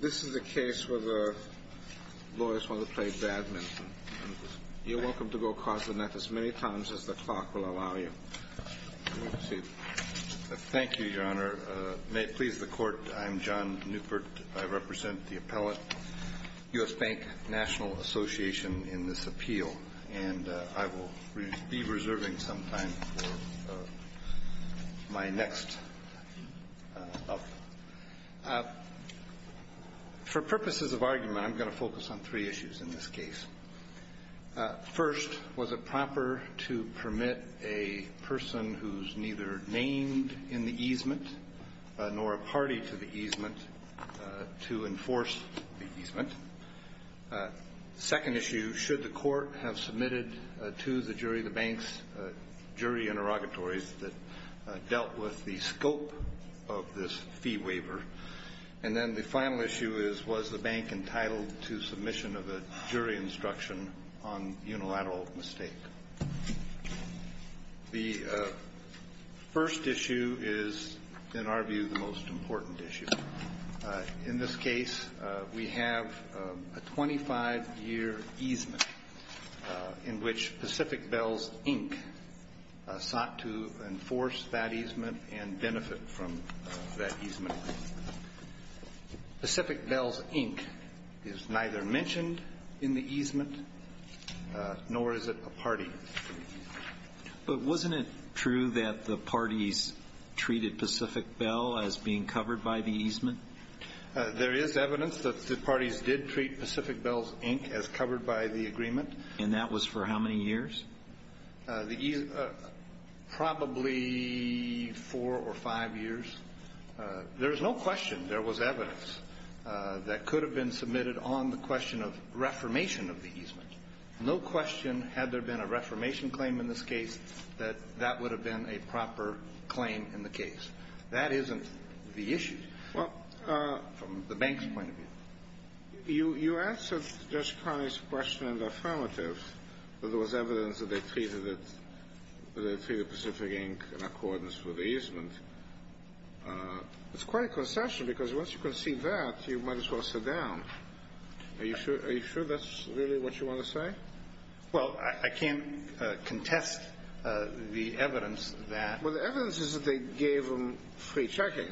This is a case where the lawyers want to play badminton. You're welcome to go across the net as many times as the clock will allow you. Thank you, Your Honor. May it please the Court, I'm John Newport. I represent the appellate, U.S. Bank National Association, in this appeal. And I will be reserving some time for my next up. For purposes of argument, I'm going to focus on three issues in this case. First, was it proper to permit a person who's neither named in the easement nor a party to the easement to enforce the easement? Second issue, should the Court have submitted to the jury the bank's jury interrogatories that dealt with the scope of this fee waiver? And then the final issue is, was the bank entitled to submission of a jury instruction on unilateral mistake? The first issue is, in our view, the most important issue. In this case, we have a 25-year easement in which Pacific Bells, Inc. sought to enforce that easement and benefit from that easement. Pacific Bells, Inc. is neither mentioned in the easement nor is it a party. But wasn't it true that the parties treated Pacific Bells, Inc. as being covered by the easement? There is evidence that the parties did treat Pacific Bells, Inc. as covered by the agreement. And that was for how many years? Probably four or five years. There is no question there was evidence that could have been submitted on the question of reformation of the easement. No question, had there been a reformation claim in this case, that that would have been a proper claim in the case. That isn't the issue from the bank's point of view. You answered Judge Connolly's question in the affirmative that there was evidence that they treated Pacific, Inc. in accordance with the easement. It's quite a concession, because once you concede that, you might as well sit down. Are you sure that's really what you want to say? Well, I can't contest the evidence that... Well, the evidence is that they gave them free checking.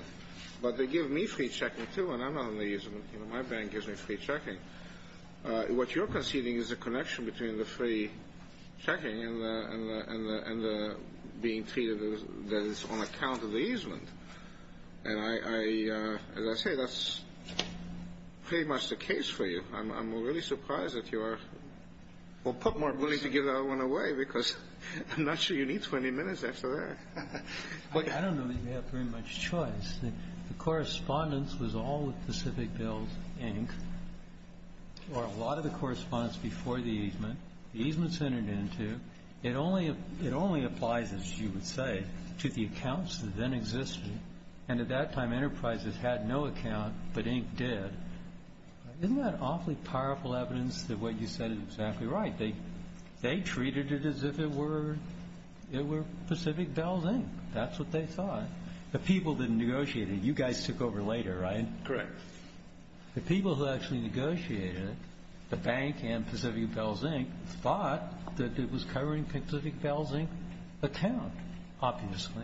But they gave me free checking, too, and I'm not in the easement. My bank gives me free checking. What you're conceding is a connection between the free checking and being treated as on account of the easement. And as I say, that's pretty much the case for you. I'm really surprised that you are... Well, put more money to give that one away, because I'm not sure you need 20 minutes after that. I don't know that you have very much choice. The correspondence was all with Pacific Bills, Inc., or a lot of the correspondence before the easement. The easement's entered into. It only applies, as you would say, to the accounts that then existed. And at that time, Enterprises had no account, but Inc. did. Isn't that awfully powerful evidence that what you said is exactly right? They treated it as if it were Pacific Bills, Inc. That's what they thought. The people that negotiated it. You guys took over later, right? Correct. The people who actually negotiated it, the bank and Pacific Bills, Inc., thought that it was covering Pacific Bills, Inc. account, obviously.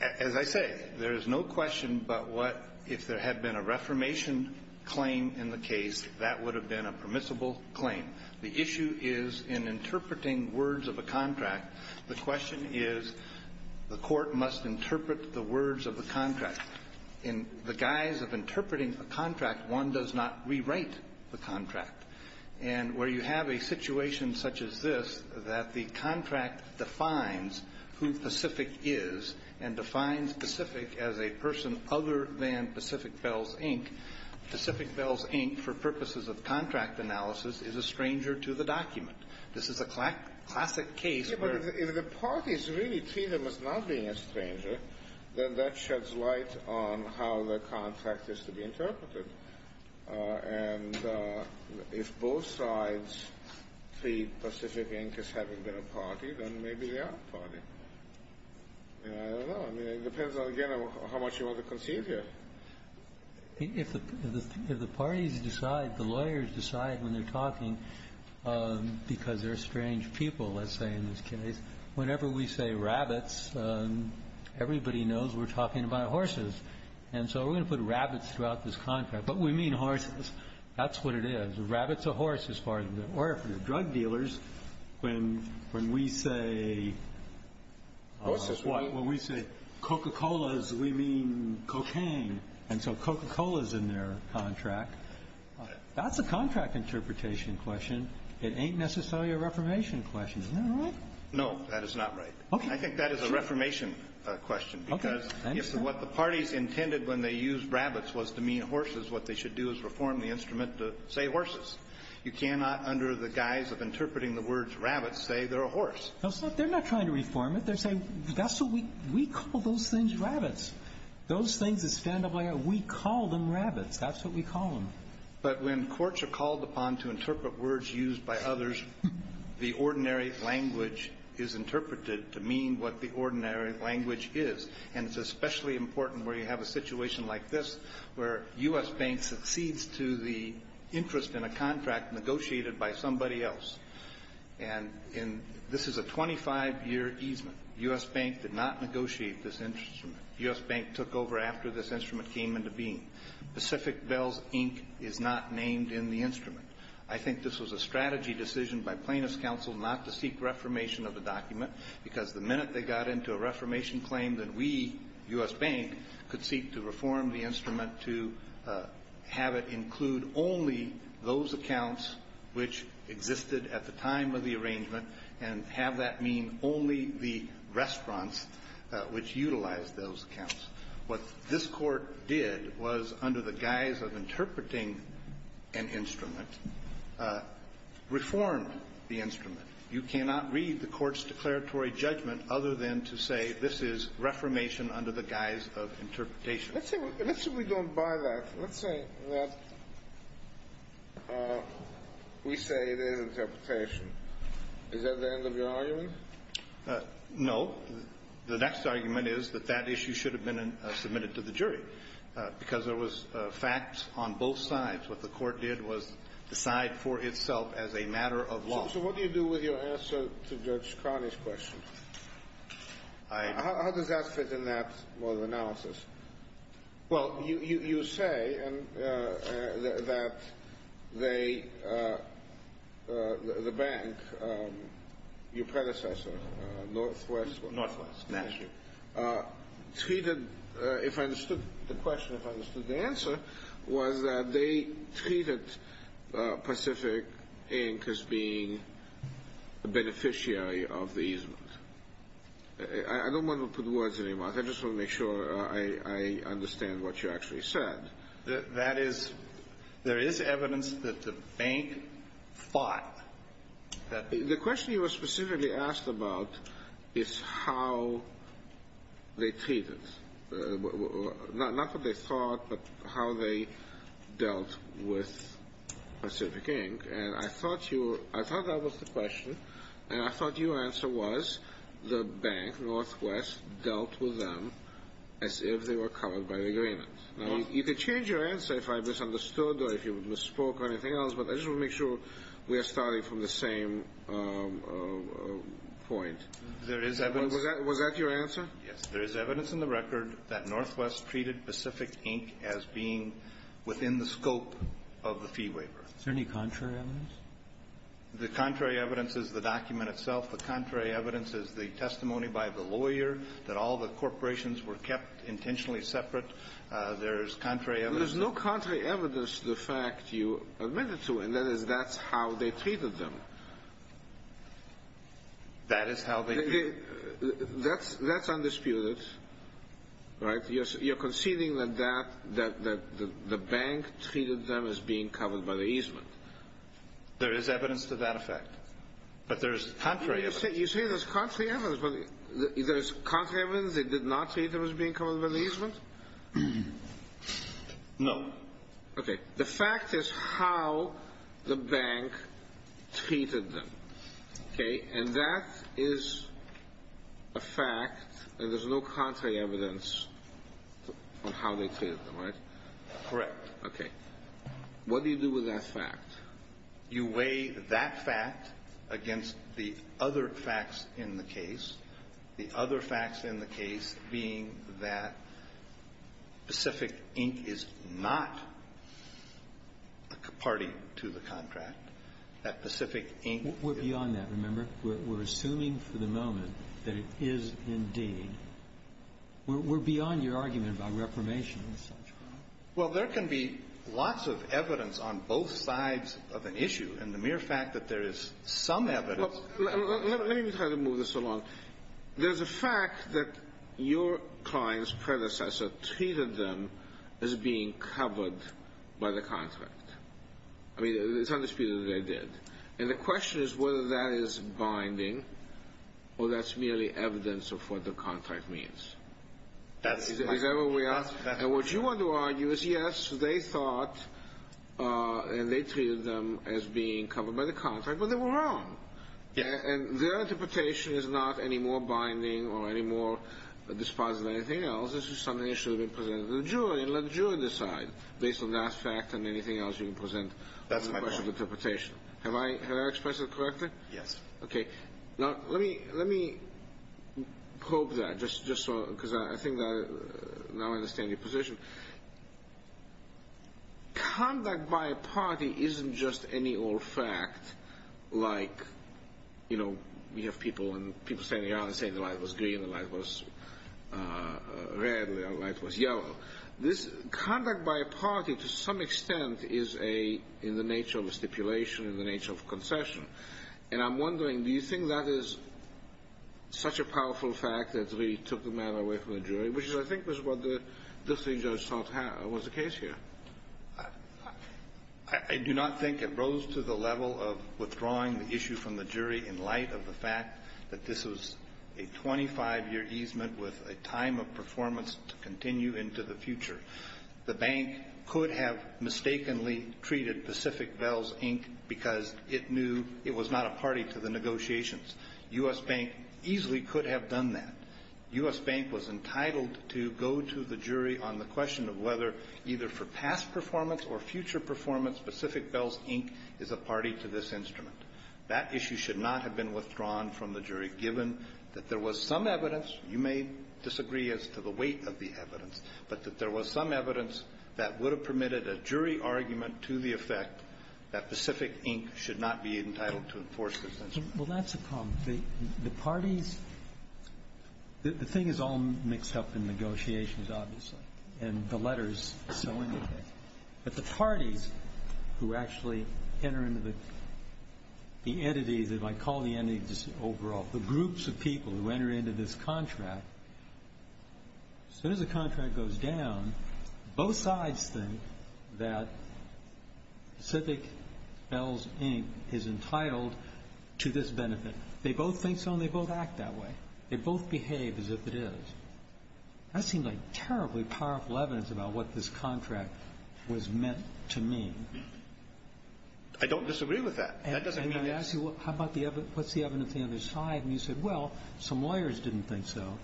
As I say, there is no question but what if there had been a reformation claim in the case, that would have been a permissible claim. The issue is in interpreting words of a contract. The question is the court must interpret the words of the contract. In the guise of interpreting a contract, one does not rewrite the contract. And where you have a situation such as this, that the contract defines who Pacific is and defines Pacific as a person other than Pacific Bills, Inc., Pacific Bills, Inc., for purposes of contract analysis, is a stranger to the document. This is a classic case where the parties really treat them as not being a stranger, then that sheds light on how the contract is to be interpreted. And if both sides treat Pacific, Inc. as having been a party, then maybe they are a party. I don't know. It depends, again, on how much you want to concede here. If the parties decide, the lawyers decide when they're talking because they're strange people, let's say, in this case, whenever we say rabbits, everybody knows we're talking about horses. And so we're going to put rabbits throughout this contract. But we mean horses. That's what it is. A rabbit's a horse as far as they're concerned. When we say Coca-Colas, we mean cocaine. And so Coca-Cola's in their contract. That's a contract interpretation question. It ain't necessarily a reformation question. Isn't that right? No, that is not right. I think that is a reformation question. Because if what the parties intended when they used rabbits was to mean horses, what they should do is reform the instrument to say horses. You cannot, under the guise of interpreting the words rabbits, say they're a horse. No, they're not trying to reform it. They're saying that's what we call those things rabbits. Those things, we call them rabbits. That's what we call them. But when courts are called upon to interpret words used by others, the ordinary language is interpreted to mean what the ordinary language is. And it's especially important where you have a situation like this, where U.S. Bank succeeds to the interest in a contract negotiated by somebody else. And this is a 25-year easement. U.S. Bank did not negotiate this instrument. U.S. Bank took over after this instrument came into being. Pacific Bells, Inc. is not named in the instrument. I think this was a strategy decision by plaintiff's counsel not to seek reformation of the document, because the minute they got into a reformation claim, then we, U.S. Bank, could seek to reform the instrument to have it include only those accounts which existed at the time of the arrangement and have that mean only the restaurants which utilized those accounts. What this Court did was, under the guise of interpreting an instrument, reformed the instrument. You cannot read the Court's declaratory judgment other than to say this is reformation under the guise of interpretation. Let's say we don't buy that. Let's say that we say it is interpretation. Is that the end of your argument? No. The next argument is that that issue should have been submitted to the jury, because there was facts on both sides. What the Court did was decide for itself as a matter of law. So what do you do with your answer to Judge Carney's question? How does that fit in that model of analysis? Well, you say that the bank, your predecessor, Northwest National, treated, if I understood the question, if I understood the answer, was that they treated Pacific Inc. as being a beneficiary of the easement. I don't want to put words in your mouth. I just want to make sure I understand what you actually said. That is, there is evidence that the bank fought. The question you were specifically asked about is how they treated, not what they thought, but how they dealt with Pacific Inc. And I thought that was the question, and I thought your answer was the bank, Northwest, dealt with them as if they were covered by the agreement. Now, you can change your answer if I misunderstood or if you misspoke or anything else, but I just want to make sure we are starting from the same point. There is evidence. Was that your answer? Yes. There is evidence in the record that Northwest treated Pacific Inc. as being within the scope of the fee waiver. Is there any contrary evidence? The contrary evidence is the document itself. The contrary evidence is the testimony by the lawyer that all the corporations were kept intentionally separate. There is contrary evidence. There is evidence to the fact you admitted to, and that is, that's how they treated them. That is how they treated them? That's undisputed, right? You're conceding that the bank treated them as being covered by the easement. There is evidence to that effect, but there is contrary evidence. You say there's contrary evidence, but is there contrary evidence they did not treat them as being covered by the easement? No. Okay. The fact is how the bank treated them, okay? And that is a fact, and there's no contrary evidence on how they treated them, right? Correct. Okay. What do you do with that fact? You weigh that fact against the other facts in the case, the other facts in the case being that Pacific Inc. is not a party to the contract, that Pacific Inc. We're beyond that, remember? We're assuming for the moment that it is indeed. We're beyond your argument about reformation and such. Well, there can be lots of evidence on both sides of an issue, and the mere fact that there is some evidence. Let me try to move this along. There's a fact that your client's predecessor treated them as being covered by the contract. I mean, it's undisputed that they did. And the question is whether that is binding or that's merely evidence of what the contract means. Is that what we ask? And what you want to argue is, yes, they thought and they treated them as being covered by the contract, but they were wrong. And their interpretation is not any more binding or any more dispositive than anything else. This is something that should have been presented to the jury, and let the jury decide based on that fact and anything else you can present. That's my point. Have I expressed it correctly? Yes. Okay. Now, let me probe that just so, because I think I now understand your position. Conduct by a party isn't just any old fact like, you know, we have people and people standing around and saying the light was green, the light was red, the light was yellow. This conduct by a party, to some extent, is in the nature of a stipulation, in the nature of a concession. And I'm wondering, do you think that is such a powerful fact that we took the matter away from the jury, which I think was what the distinguished judge thought was the case here? I do not think it rose to the level of withdrawing the issue from the jury in light of the fact that this was a 25-year easement with a time of performance to continue into the future. The bank could have mistakenly treated Pacific Bells, Inc. because it knew it was not a party to the negotiations. U.S. Bank easily could have done that. U.S. Bank was entitled to go to the jury on the question of whether, either for past performance or future performance, Pacific Bells, Inc. is a party to this instrument. That issue should not have been withdrawn from the jury, given that there was some evidence, you may disagree as to the weight of the evidence, but that there was some evidence that would have permitted a jury argument to the effect that Pacific, Inc. should not be entitled to enforce this instrument. Well, that's a problem. The parties – the thing is all mixed up in negotiations, obviously, and the letters so indicate. But the parties who actually enter into the entities, if I call the entities overall, the groups of people who enter into this contract, as soon as the contract goes down, both sides think that Pacific Bells, Inc. is entitled to this benefit. They both think so and they both act that way. They both behave as if it is. That seemed like terribly powerful evidence about what this contract was meant to mean. I don't disagree with that. That doesn't mean it's – And I ask you, how about the – what's the evidence on the other side? And you said, well, some lawyers didn't think so.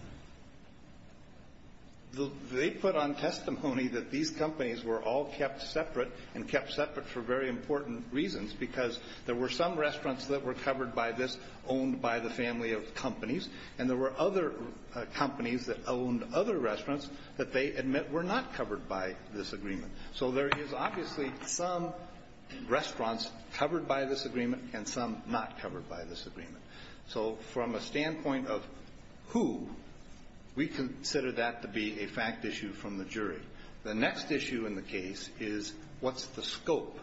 They put on testimony that these companies were all kept separate and kept separate for very important reasons, because there were some restaurants that were covered by this, owned by the family of companies, and there were other companies that owned other restaurants that they admit were not covered by this agreement. So there is obviously some restaurants covered by this agreement and some not covered by this agreement. So from a standpoint of who, we consider that to be a fact issue from the jury. The next issue in the case is what's the scope.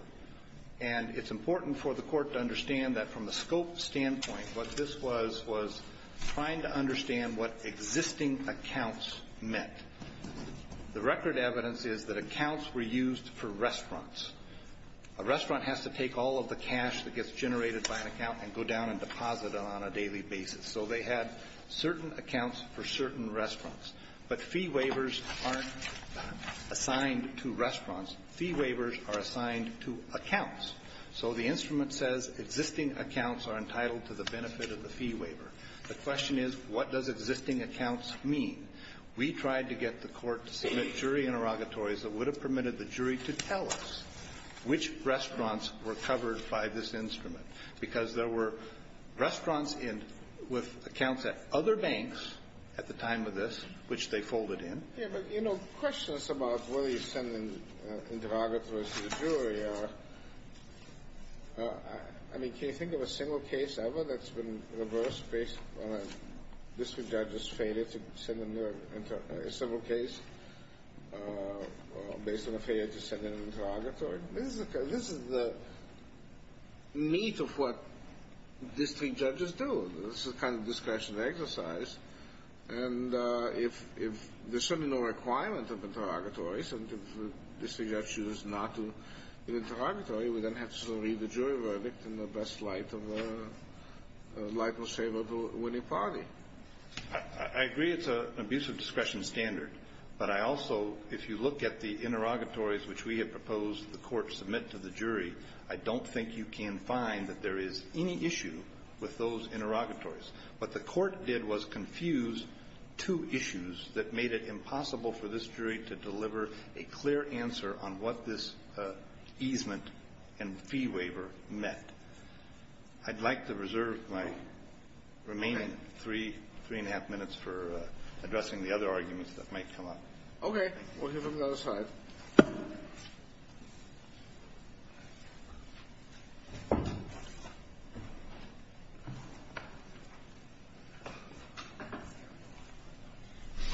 And it's important for the Court to understand that from the scope standpoint, what this was was trying to understand what existing accounts meant. The record evidence is that accounts were used for restaurants. A restaurant has to take all of the cash that gets generated by an account and go down and deposit it on a daily basis. So they had certain accounts for certain restaurants. But fee waivers aren't assigned to restaurants. Fee waivers are assigned to accounts. So the instrument says existing accounts are entitled to the benefit of the fee waiver. The question is, what does existing accounts mean? We tried to get the Court to submit jury interrogatories that would have permitted the jury to tell us which restaurants were covered by this instrument, because there were restaurants with accounts at other banks at the time of this, which they folded Yeah, but, you know, the question is about whether you're sending interrogatories to the jury. I mean, can you think of a single case ever that's been reversed based on a district judge's failure to send in a civil case based on a failure to send in an interrogatory? This is the meat of what district judges do. This is kind of discretionary exercise. And if there's certainly no requirement of interrogatories, and if the district judge chooses not to interrogatory, we then have to read the jury verdict in the best light of a light-saver to a winning party. I agree it's an abuse of discretion standard. But I also, if you look at the interrogatories which we have proposed the Court submit to the jury, I don't think you can find that there is any issue with those interrogatories. What the Court did was confuse two issues that made it impossible for this jury to deliver a clear answer on what this easement and fee waiver meant. I'd like to reserve my remaining three, three-and-a-half minutes for addressing the other arguments that might come up. Okay. We'll hear from the other side.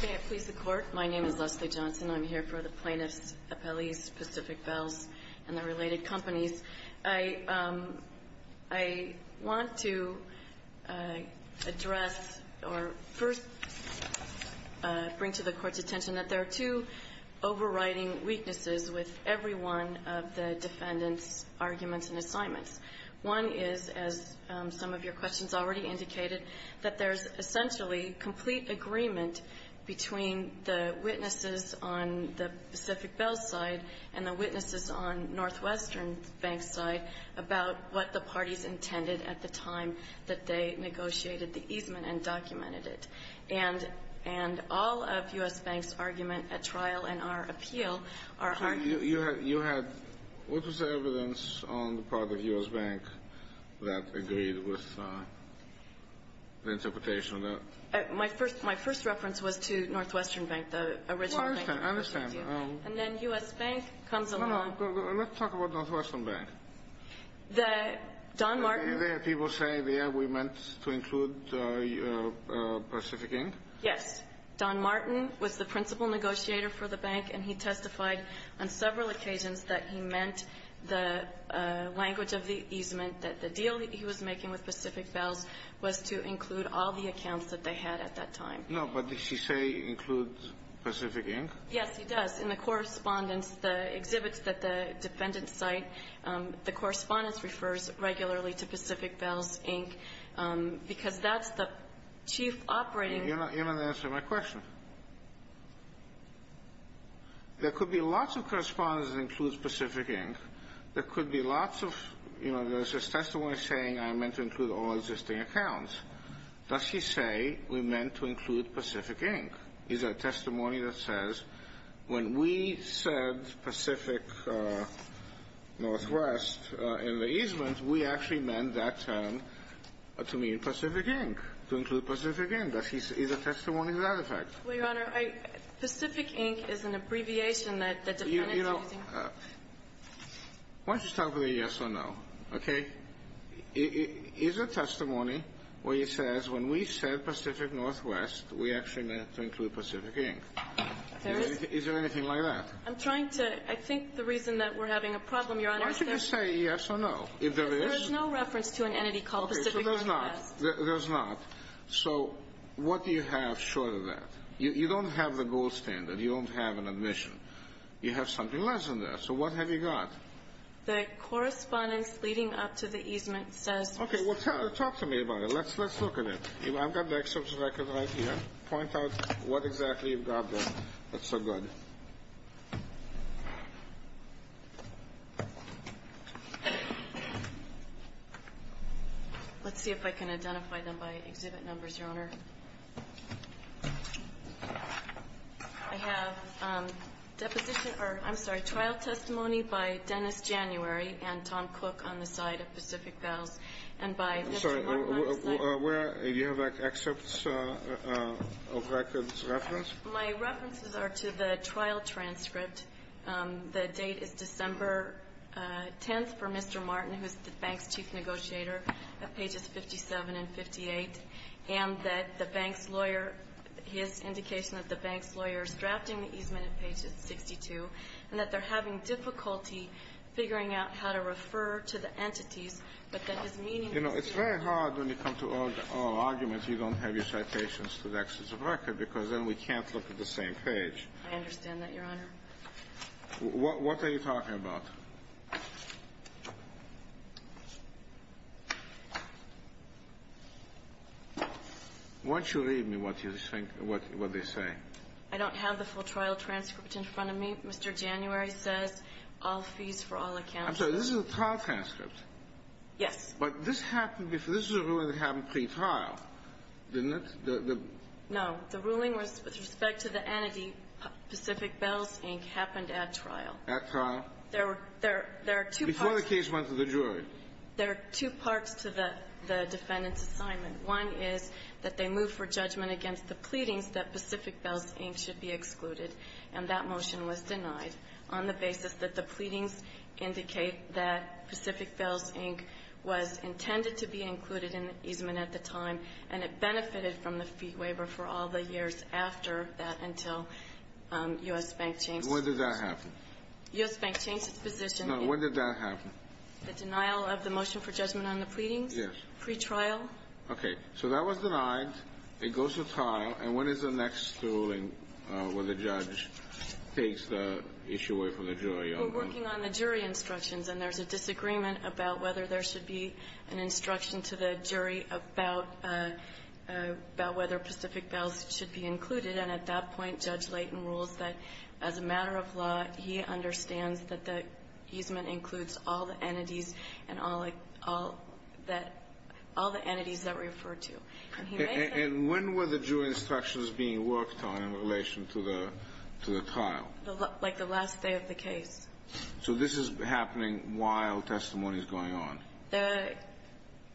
May it please the Court? My name is Leslie Johnson. I'm here for the plaintiffs' appellees, Pacific Bells, and the related companies. I want to address or first bring to the Court's attention that there are two overriding weaknesses with every one of the defendants' arguments and assignments. One is, as some of your questions already indicated, that there's essentially complete agreement between the witnesses on the Pacific Bells side and the witnesses on Northwestern Bank's side about what the parties intended at the time that they negotiated the easement and documented it. And all of U.S. Bank's argument at trial and our appeal are argued. You had what was the evidence on the part of U.S. Bank that agreed with the interpretation of that? My first reference was to Northwestern Bank, the original bank. Well, I understand. I understand. No, no. Let's talk about Northwestern Bank. Don Martin People say, yeah, we meant to include Pacific Inc.? Yes. Don Martin was the principal negotiator for the bank, and he testified on several occasions that he meant the language of the easement, that the deal he was making with Pacific Bells was to include all the accounts that they had at that time. No, but did he say include Pacific Inc.? Yes, he does. In the correspondence, the exhibits that the defendants cite, the correspondence refers regularly to Pacific Bells, Inc., because that's the chief operating You're not going to answer my question. There could be lots of correspondence that includes Pacific Inc. There could be lots of, you know, there's this testimony saying I meant to include all existing accounts. Does he say we meant to include Pacific Inc.? Is that testimony that says when we said Pacific Northwest in the easement, we actually meant that term to mean Pacific Inc., to include Pacific Inc.? Is the testimony to that effect? Well, Your Honor, Pacific Inc. is an abbreviation that the defendants are using. Why don't you start with a yes or no? Okay. Is the testimony where he says when we said Pacific Northwest, we actually meant to include Pacific Inc.? There is. Is there anything like that? I'm trying to, I think the reason that we're having a problem, Your Honor, is there Why don't you just say yes or no, if there is. There is no reference to an entity called Pacific Northwest. Okay, so there's not. There's not. So what do you have short of that? You don't have the gold standard. You don't have an admission. You have something less than that. So what have you got? The correspondence leading up to the easement says Okay, well, talk to me about it. Let's look at it. I've got the excerpts of the record right here. Point out what exactly you've got there. That's so good. Let's see if I can identify them by exhibit numbers, Your Honor. I have deposition, or I'm sorry, trial testimony by Dennis January and Tom Cook on the side of Pacific Fells and by I'm sorry, where Do you have an excerpt of records reference? My references are to the trial transcript. The date is December 10th for Mr. Martin, who is the bank's chief negotiator, at pages 57 and 58, and that the bank's lawyer his indication that the bank's lawyer is drafting the easement at pages 62 and that they're having difficulty figuring out how to refer to the entities, but that his meaning You know, it's very hard when you come to oral arguments, you don't have your citations to the excess of record because then we can't look at the same page. I understand that, Your Honor. What are you talking about? Why don't you read me what you think, what they say. I don't have the full trial transcript in front of me. Mr. January says all fees for all accounts I'm sorry, this is a trial transcript. Yes. But this happened before. This is a ruling that happened pre-trial, didn't it? No. The ruling was with respect to the entity Pacific Bells, Inc. happened at trial. At trial. There are two parts. Before the case went to the jury. There are two parts to the defendant's assignment. One is that they moved for judgment against the pleadings that Pacific Bells, should be excluded, and that motion was denied on the basis that the pleadings indicate that Pacific Bells, Inc. was intended to be included in the easement at the time, and it benefited from the fee waiver for all the years after that until U.S. Bank changed its position. When did that happen? U.S. Bank changed its position. No. When did that happen? The denial of the motion for judgment on the pleadings? Yes. Pre-trial. Okay. So that was denied. It goes to trial. And when is the next ruling when the judge takes the issue away from the jury? We're working on the jury instructions, and there's a disagreement about whether there should be an instruction to the jury about whether Pacific Bells should be included. And at that point, Judge Leighton rules that as a matter of law, he understands that the easement includes all the entities and all the entities that we refer to. And when were the jury instructions being worked on in relation to the trial? Like the last day of the case. So this is happening while testimony is going on.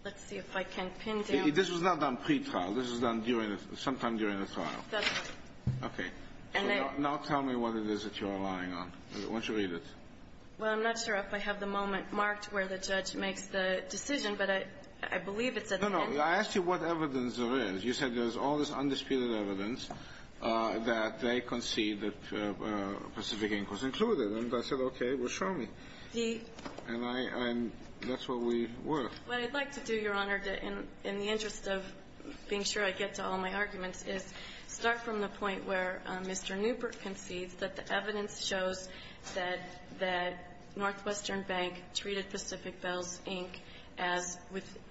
Let's see if I can pin down. This was not done pre-trial. This was done during the – sometime during the trial. That's right. Okay. Now tell me what it is that you are relying on. Why don't you read it? Well, I'm not sure if I have the moment marked where the judge makes the decision, but I believe it's at the end. No, no. I asked you what evidence there is. You said there's all this undisputed evidence that they concede that Pacific Inc. was included. And I said, okay, well, show me. He – And I'm – that's what we were. What I'd like to do, Your Honor, in the interest of being sure I get to all my arguments, is start from the point where Mr. Newbert concedes that the evidence shows that Northwestern Bank treated Pacific Bells Inc. as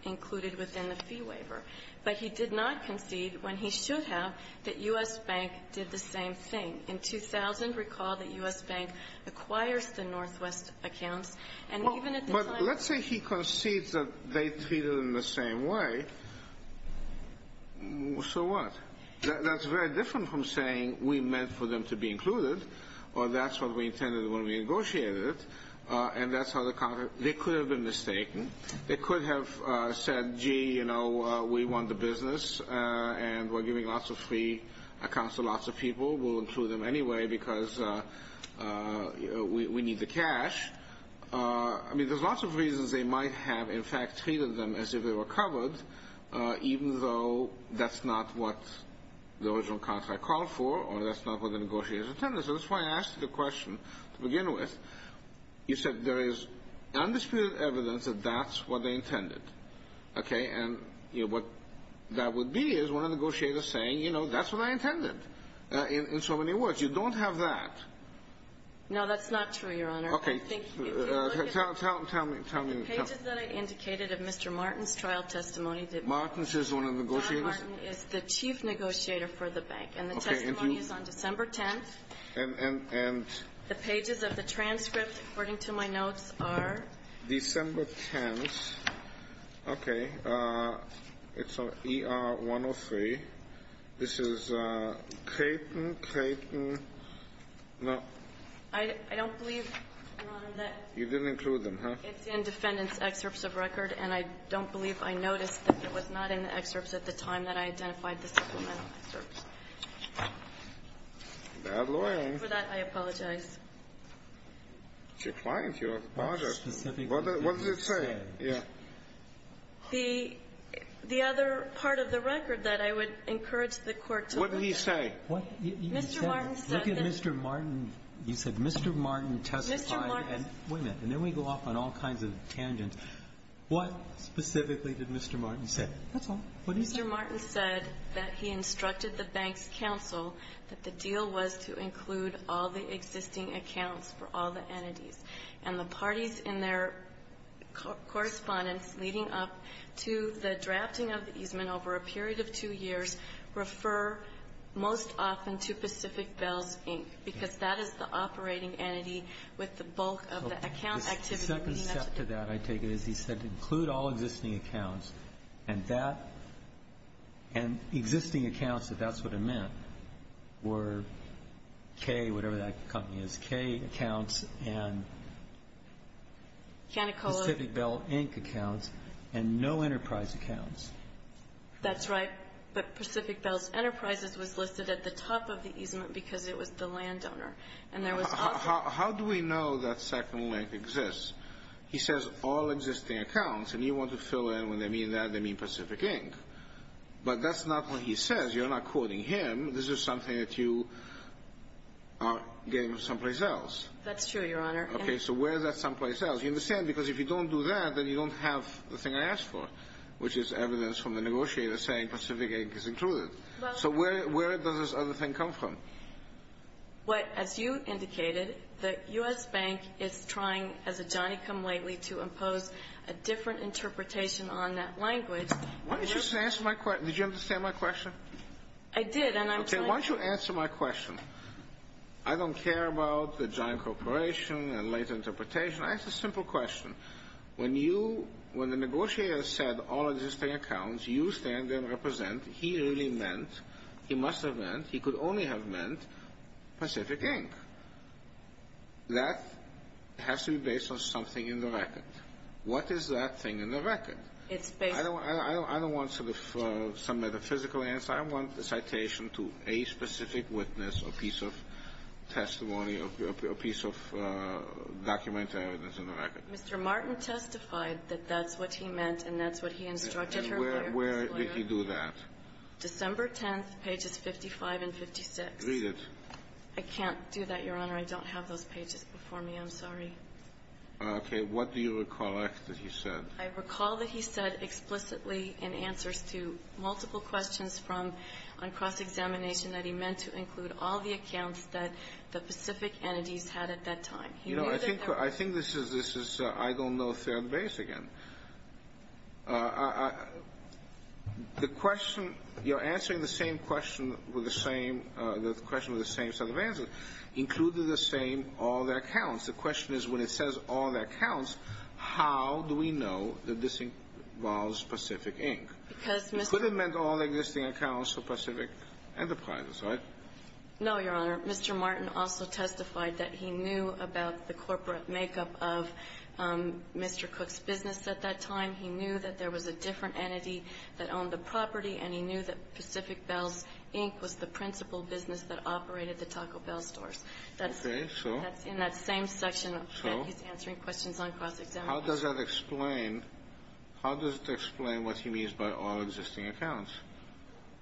included within the fee waiver. But he did not concede, when he should have, that U.S. Bank did the same thing. In 2000, recall that U.S. Bank acquires the Northwest accounts, and even at the time – Well, but let's say he concedes that they treated them the same way. So what? That's very different from saying we meant for them to be included, or that's what we intended when we negotiated it, and that's how the – they could have been mistaken. They could have said, gee, you know, we want the business, and we're giving lots of free accounts to lots of people. We'll include them anyway because we need the cash. I mean, there's lots of reasons they might have, in fact, treated them as if they were covered, even though that's not what the original contract called for, or that's not what the negotiations intended. So that's why I asked you the question to begin with. You said there is undisputed evidence that that's what they intended. Okay? And, you know, what that would be is one of the negotiators saying, you know, that's what I intended, in so many words. You don't have that. No, that's not true, Your Honor. Okay. Tell me. Tell me. The pages that I indicated of Mr. Martin's trial testimony that – Martin's is one of the negotiators? John Martin is the chief negotiator for the bank. Okay. And the testimony is on December 10th. And – and – The pages of the transcript, according to my notes, are – December 10th. Okay. It's on ER 103. This is Creighton, Creighton. No. I don't believe, Your Honor, that – You didn't include them, huh? It's in defendant's excerpts of record, and I don't believe I noticed that it was not in the excerpts at the time that I identified the supplemental excerpts. Bad loyalty. For that, I apologize. It's your client. You're a partner. What does it say? Yeah. The – the other part of the record that I would encourage the Court to look at. What did he say? Mr. Martin said that – Look at Mr. Martin. You said Mr. Martin testified and – Mr. Martin – Wait a minute. And then we go off on all kinds of tangents. What specifically did Mr. Martin say? That's all. What did he say? Mr. Martin said that he instructed the bank's counsel that the deal was to include all the existing accounts for all the entities. And the parties in their correspondence leading up to the drafting of the easement over a period of two years refer most often to Pacific Bells, Inc., because that is the operating entity with the bulk of the account activity. The second step to that, I take it, is he said to include all existing accounts. And that – and existing accounts, if that's what it meant, were K, whatever that company is, K accounts and Pacific Bell, Inc. accounts and no enterprise accounts. That's right. But Pacific Bells Enterprises was listed at the top of the easement because it was the landowner. And there was – How do we know that second link exists? He says all existing accounts. And you want to fill in. When they mean that, they mean Pacific, Inc. But that's not what he says. You're not quoting him. This is something that you are getting someplace else. That's true, Your Honor. Okay. So where is that someplace else? You understand? Because if you don't do that, then you don't have the thing I asked for, which is evidence from the negotiator saying Pacific, Inc. is included. So where does this other thing come from? As you indicated, the U.S. Bank is trying, as a Johnny come lately, to impose a different interpretation on that language. Did you understand my question? I did. Okay. Why don't you answer my question? I don't care about the giant corporation and late interpretation. I ask a simple question. When the negotiator said all existing accounts, you stand there and represent, he really meant, he must have meant, he could only have meant, Pacific, Inc. That has to be based on something in the record. What is that thing in the record? I don't want some metaphysical answer. I want a citation to a specific witness, a piece of testimony, a piece of document evidence in the record. Mr. Martin testified that that's what he meant, and that's what he instructed her to do. And where did he do that? December 10th, pages 55 and 56. Read it. I can't do that, Your Honor. I don't have those pages before me. I'm sorry. Okay. What do you recollect that he said? I recall that he said explicitly in answers to multiple questions from on cross-examination that he meant to include all the accounts that the Pacific entities had at that time. You know, I think this is, I don't know, third base again. The question, you're answering the same question with the same, the question with the same set of answers. Include in the same all the accounts. The question is when it says all the accounts, how do we know that this involves Pacific, Inc.? Because Mr. He could have meant all the existing accounts for Pacific Enterprises, right? No, Your Honor. Mr. Martin also testified that he knew about the corporate makeup of Mr. Bell's business at that time. He knew that there was a different entity that owned the property, and he knew that Pacific Bells, Inc. was the principal business that operated the Taco Bell stores. Okay. So? That's in that same section that he's answering questions on cross-examination. How does that explain, how does it explain what he means by all existing accounts?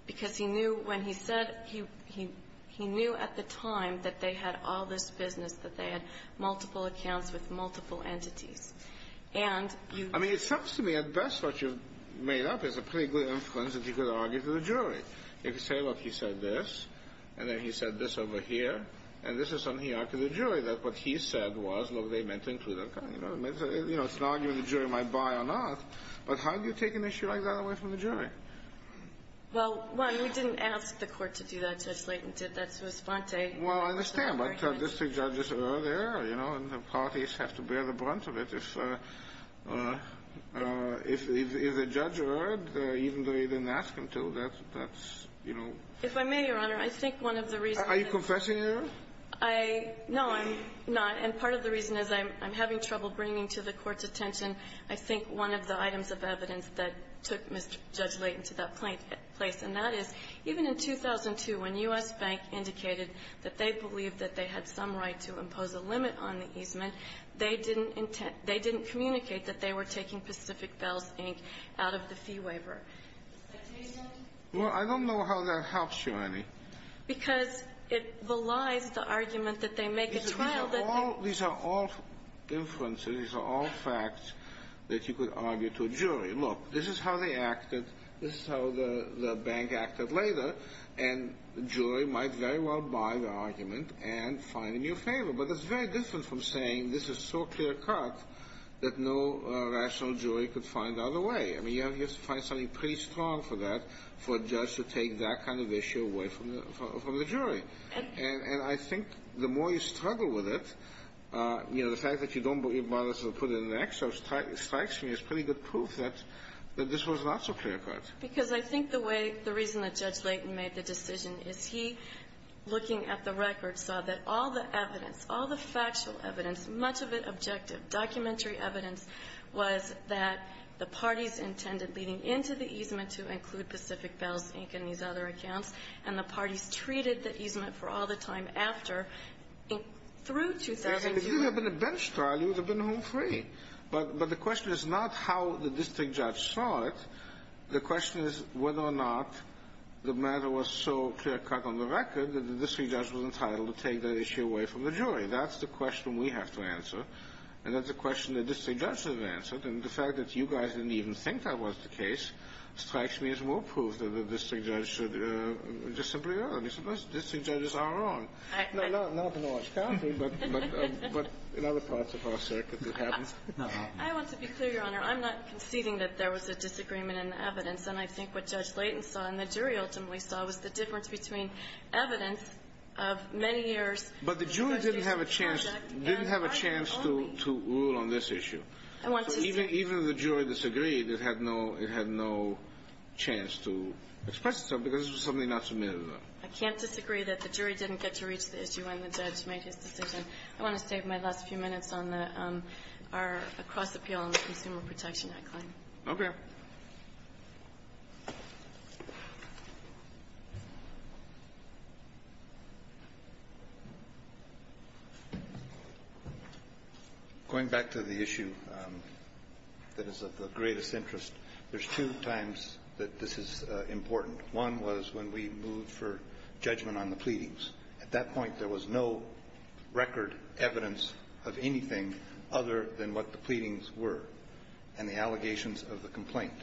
Because he knew when he said, he knew at the time that they had all this business, that they had multiple accounts with multiple entities. And you I mean, it sounds to me at best what you've made up is a pretty good influence that you could argue to the jury. If you say, look, he said this, and then he said this over here, and this is something he argued to the jury, that what he said was, look, they meant to include that guy. You know, it's an argument the jury might buy or not. But how do you take an issue like that away from the jury? Well, one, we didn't ask the court to do that, Judge Layton. That's a response I Well, I understand. But these two judges are there, you know, and the parties have to bear the brunt of it. If a judge heard, even though you didn't ask him to, that's, you know If I may, Your Honor, I think one of the reasons Are you confessing here? I, no, I'm not. And part of the reason is I'm having trouble bringing to the Court's attention I think one of the items of evidence that took Mr. Judge Layton to that place. And that is, even in 2002, when U.S. Bank indicated that they believed that they had some right to impose a limit on the easement, they didn't communicate that they were taking Pacific Bells, Inc. out of the fee waiver. Well, I don't know how that helps you, Annie. Because it belies the argument that they make at trial that These are all inferences. These are all facts that you could argue to a jury. Look, this is how they acted. This is how the bank acted later. And the jury might very well buy the argument and find a new favor. But it's very different from saying, This is so clear-cut that no rational jury could find other way. I mean, you have to find something pretty strong for that, For a judge to take that kind of issue away from the jury. And I think the more you struggle with it, You know, the fact that you don't bother to put in an extra Strikes me as pretty good proof that this was not so clear-cut. Because I think the way, the reason that Judge Layton made the decision is he, Looking at the record, saw that all the evidence, all the factual evidence, Much of it objective, documentary evidence, was that the parties intended Leading into the easement to include Pacific Bells, Inc. and these other accounts, And the parties treated the easement for all the time after, through 2001. If you had been at bench trial, you would have been home free. But the question is not how the district judge saw it. The question is whether or not the matter was so clear-cut on the record That the district judge was entitled to take that issue away from the jury. That's the question we have to answer. And that's the question the district judge should have answered. And the fact that you guys didn't even think that was the case Strikes me as more proof that the district judge should just simply go, District judges are wrong. I want to be clear, Your Honor. I'm not conceding that there was a disagreement in the evidence. And I think what Judge Layton saw and the jury ultimately saw Was the difference between evidence of many years' But the jury didn't have a chance to rule on this issue. I want to disagree. Even if the jury disagreed, it had no chance to express itself Because it was something not submitted at all. I can't disagree that the jury didn't get to reach the issue When the judge made his decision. I want to save my last few minutes on our cross-appeal On the Consumer Protection Act claim. Okay. Going back to the issue that is of the greatest interest, There's two times that this is important. One was when we moved for judgment on the pleadings. At that point, there was no record evidence of anything Other than what the pleadings were and the allegations of the complaint.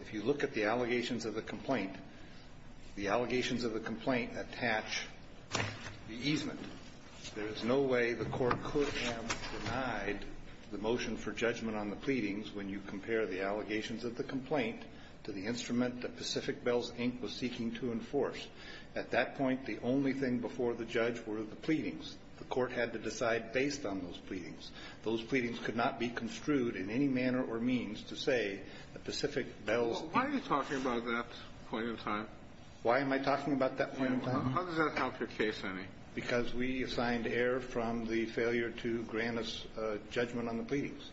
If you look at the allegations of the complaint, The allegations of the complaint attach the easement. There is no way the Court could have denied the motion for judgment on the pleadings When you compare the allegations of the complaint To the instrument that Pacific Bells, Inc. was seeking to enforce. At that point, the only thing before the judge were the pleadings. The Court had to decide based on those pleadings. Those pleadings could not be construed in any manner or means To say that Pacific Bells, Inc. Why are you talking about that point in time? Why am I talking about that point in time? How does that help your case, then? Because we assigned error from the failure to grant us judgment on the pleadings.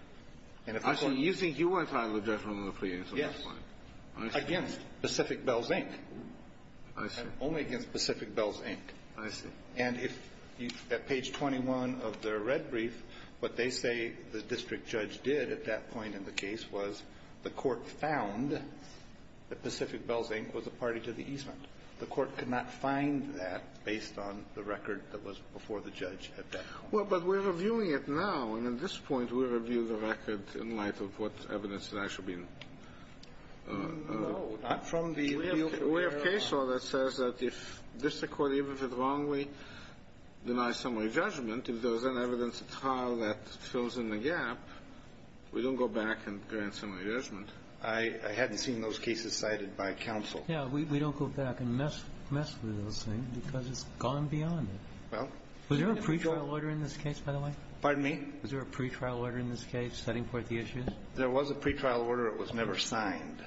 Actually, you think you were entitled to judgment on the pleadings, so that's fine. Yes. Against Pacific Bells, Inc. I see. Only against Pacific Bells, Inc. I see. And if at page 21 of their red brief, what they say the district judge did at that point in the case was the Court found that Pacific Bells, Inc. was a party to the easement. The Court could not find that based on the record that was before the judge at that point. Well, but we're reviewing it now. And at this point, we review the record in light of what evidence has actually been No, not from the review. We have case law that says that if district court, even if it wrongly denies summary judgment, if there's an evidence at trial that fills in the gap, we don't go back and grant summary judgment. I hadn't seen those cases cited by counsel. Yeah, we don't go back and mess with those things because it's gone beyond it. Was there a pretrial order in this case, by the way? Pardon me? Was there a pretrial order in this case setting forth the issues? There was a pretrial order. It was never signed.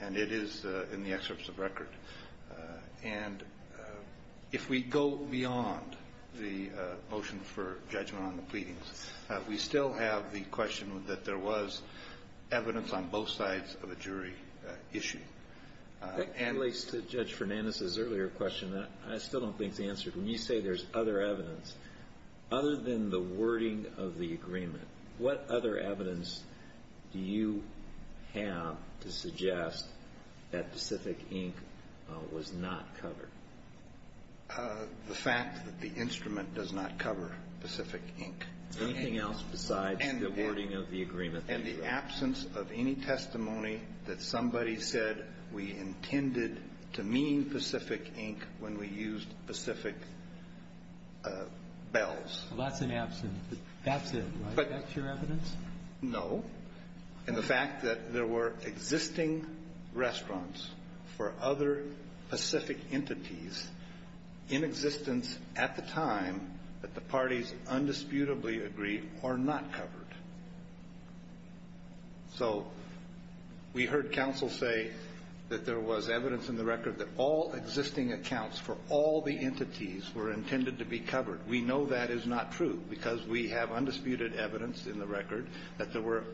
And it is in the excerpts of record. And if we go beyond the motion for judgment on the pleadings, we still have the question that there was evidence on both sides of a jury issue. That relates to Judge Fernandez's earlier question. I still don't think the answer. When you say there's other evidence, other than the wording of the agreement, what other evidence do you have to suggest that Pacific Ink was not covered? The fact that the instrument does not cover Pacific Ink. Anything else besides the wording of the agreement that you wrote? And the absence of any testimony that somebody said we intended to mean Pacific Ink when we used Pacific Bells. Well, that's an absence. That's it, right? That's your evidence? No. And the fact that there were existing restaurants for other Pacific entities in existence at the time that the parties undisputably agree are not covered. So we heard counsel say that there was evidence in the record that all existing accounts for all the entities were intended to be covered. We know that is not true because we have undisputed evidence in the record that there were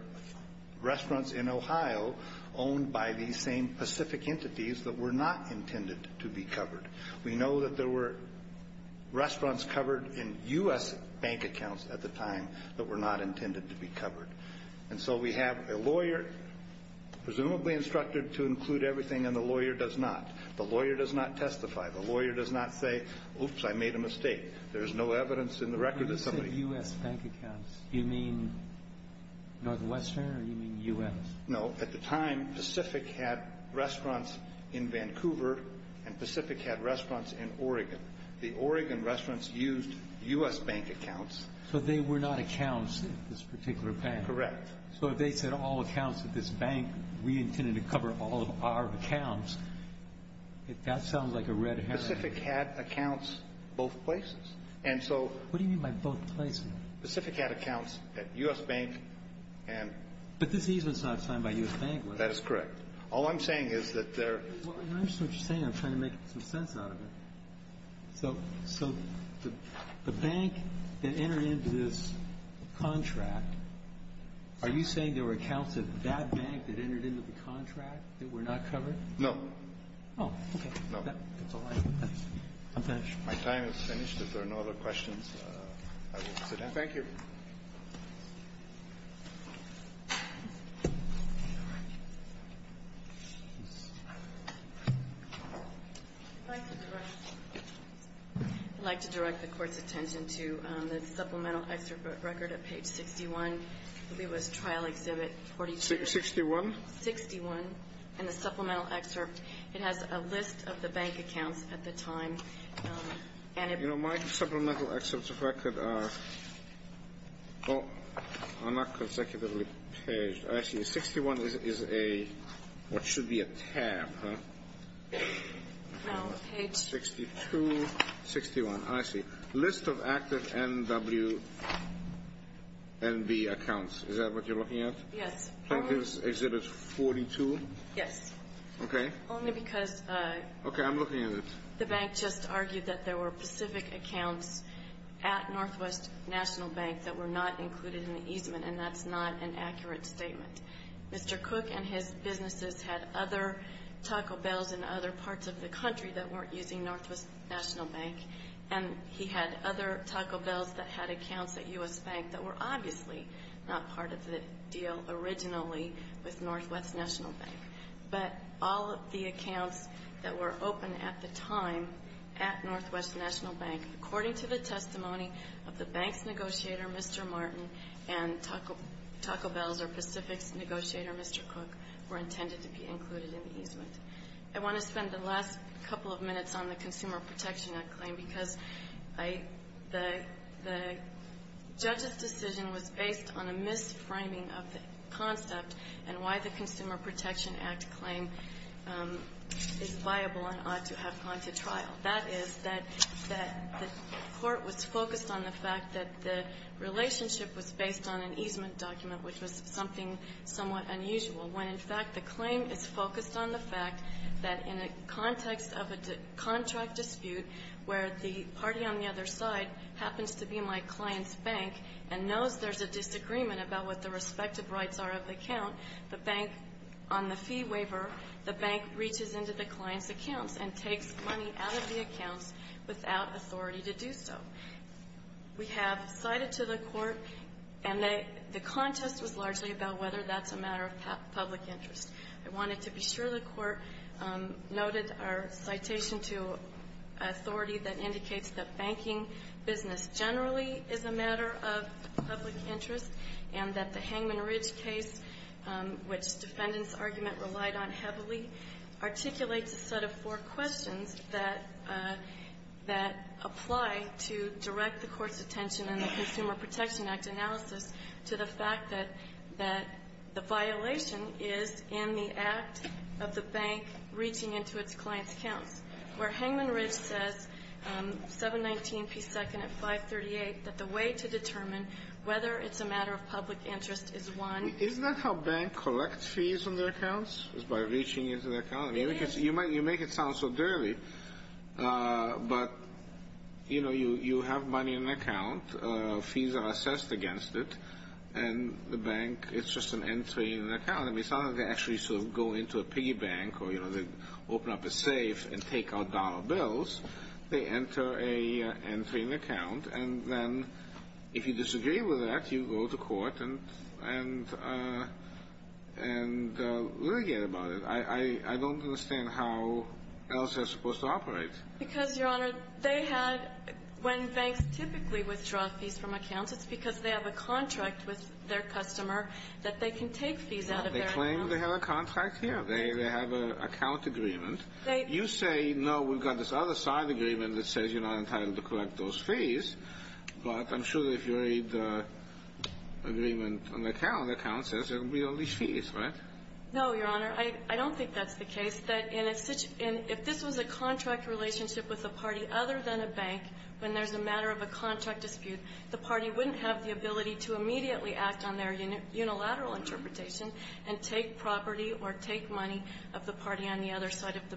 restaurants in Ohio owned by these same Pacific entities that were not intended to be covered. We know that there were restaurants covered in U.S. bank accounts at the time that were not intended to be covered. And so we have a lawyer, presumably instructed to include everything, and the lawyer does not. The lawyer does not testify. The lawyer does not say, oops, I made a mistake. There is no evidence in the record that somebody… When you say U.S. bank accounts, do you mean Northwestern or do you mean U.S.? No. At the time, Pacific had restaurants in Vancouver, and Pacific had restaurants in Oregon. The Oregon restaurants used U.S. bank accounts. So they were not accounts at this particular bank. Correct. So if they said all accounts at this bank, we intended to cover all of our accounts, that sounds like a red herring. Pacific had accounts both places. And so… What do you mean by both places? Pacific had accounts at U.S. bank and… But this easement is not signed by U.S. bank, is it? That is correct. All I'm saying is that there… Well, I understand what you're saying. I'm trying to make some sense out of it. So the bank that entered into this contract, are you saying there were accounts at that bank that entered into the contract that were not covered? No. Oh, okay. No. I'm finished. My time is finished. If there are no other questions, I will sit down. Thank you. I'd like to direct the Court's attention to the supplemental excerpt record at page 61. I believe it was trial exhibit 42. 61? 61. And the supplemental excerpt, it has a list of the bank accounts at the time. You know, my supplemental excerpts of record are not consecutively paged. Actually, 61 is what should be a tab. Page 62, 61. I see. List of active NWNB accounts. Is that what you're looking at? Yes. Trial exhibit 42? Yes. Okay. Only because… Okay, I'm looking at it. The bank just argued that there were specific accounts at NWNB that were not included in the easement, and that's not an accurate statement. Mr. Cook and his businesses had other Taco Bells in other parts of the country that weren't using NWNB, and he had other Taco Bells that had accounts at U.S. Bank that were obviously not part of the deal originally with NWNB. But all of the accounts that were open at the time at NWNB, according to the testimony of the bank's negotiator, Mr. Martin, and Taco Bells or Pacific's negotiator, Mr. Cook, were intended to be included in the easement. I want to spend the last couple of minutes on the Consumer Protection Act claim because the judge's decision was based on a mis-framing of the concept and why the Consumer Protection Act claim is viable and ought to have gone to trial. That is that the court was focused on the fact that the relationship was based on an easement document, which was something somewhat unusual, when, in fact, the claim is focused on the fact that in a context of a contract dispute where the party on the other side happens to be my client's bank and knows there's a disagreement about what the respective rights are of the account, the bank, on the fee waiver, the bank reaches into the client's accounts and takes money out of the accounts without authority to do so. We have cited to the Court, and the contest was largely about whether that's a matter of public interest. I wanted to be sure the Court noted our citation to authority that indicates that banking business generally is a matter of public interest and that the Hangman Ridge case, which defendants' argument relied on heavily, articulates a set of four questions that apply to direct the Court's attention in the Consumer Protection Act analysis to the fact that the violation is in the act of the bank reaching into its client's accounts, where Hangman Ridge says, 719p2 at 538, that the way to determine whether it's a matter of public interest is one. Isn't that how banks collect fees on their accounts, is by reaching into their accounts? I mean, you make it sound so dirty, but, you know, you have money in an account, fees are assessed against it, and the bank, it's just an entry in an account. I mean, it's not like they actually sort of go into a piggy bank or, you know, they open up a safe and take out dollar bills. They enter an entry in an account, and then if you disagree with that, you go to court and litigate about it. I don't understand how else they're supposed to operate. Because, Your Honor, they had when banks typically withdraw fees from accounts, it's because they have a contract with their customer that they can take fees out of their accounts. They claim they have a contract here. They have an account agreement. You say, no, we've got this other side agreement that says you're not entitled to collect those fees. But I'm sure that if you read the agreement on the account, the account says there will be only fees, right? No, Your Honor. I don't think that's the case. That in a situation, if this was a contract relationship with a party other than a party wouldn't have the ability to immediately act on their unilateral interpretation and take property or take money of the party on the other side of the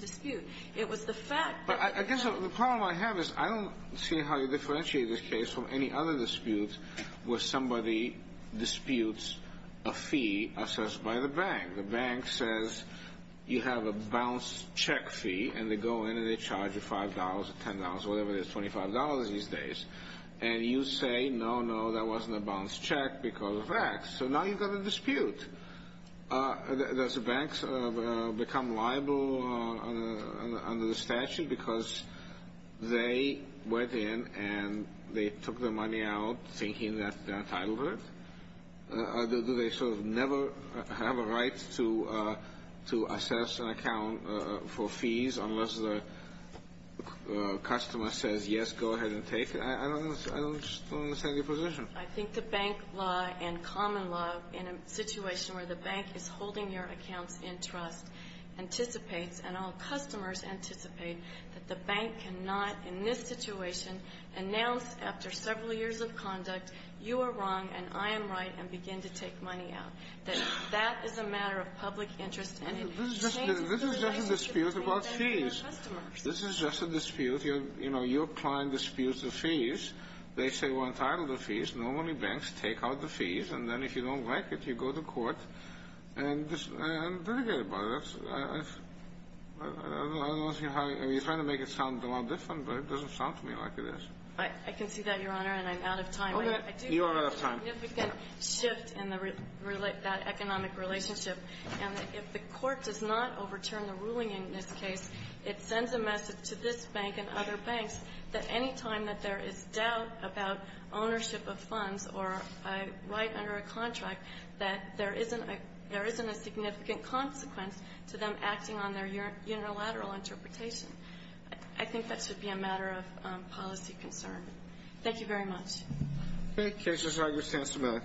dispute. It was the fact that they had to. But I guess the problem I have is I don't see how you differentiate this case from any other dispute where somebody disputes a fee assessed by the bank. The bank says you have a balanced check fee, and they go in and they charge you $5 or $10 or whatever it is, $25 these days. And you say, no, no, that wasn't a balanced check because of that. So now you've got a dispute. Does the bank become liable under the statute because they went in and they took their money out thinking that they're entitled to it? Do they sort of never have a right to assess an account for fees unless the customer says, yes, go ahead and take it? I don't understand your position. I think the bank law and common law in a situation where the bank is holding your accounts in trust anticipates and all customers anticipate that the bank cannot in this situation announce after several years of conduct, you are wrong and I am right and begin to take money out, that that is a matter of public interest and it changes the relationship between banks and their customers. This is just a dispute. You know, your client disputes the fees. They say we're entitled to fees. Normally banks take out the fees. And then if you don't like it, you go to court and litigate about it. I don't see how you're trying to make it sound a lot different, but it doesn't sound to me like it is. I can see that, Your Honor, and I'm out of time. You are out of time. I do think there's a significant shift in that economic relationship. And if the Court does not overturn the ruling in this case, it sends a message to this bank and other banks that any time that there is doubt about ownership of funds or a right under a contract, that there isn't a significant consequence to them acting on their unilateral interpretation. I think that should be a matter of policy concern. Thank you very much. Okay. The case is now your chance to vote.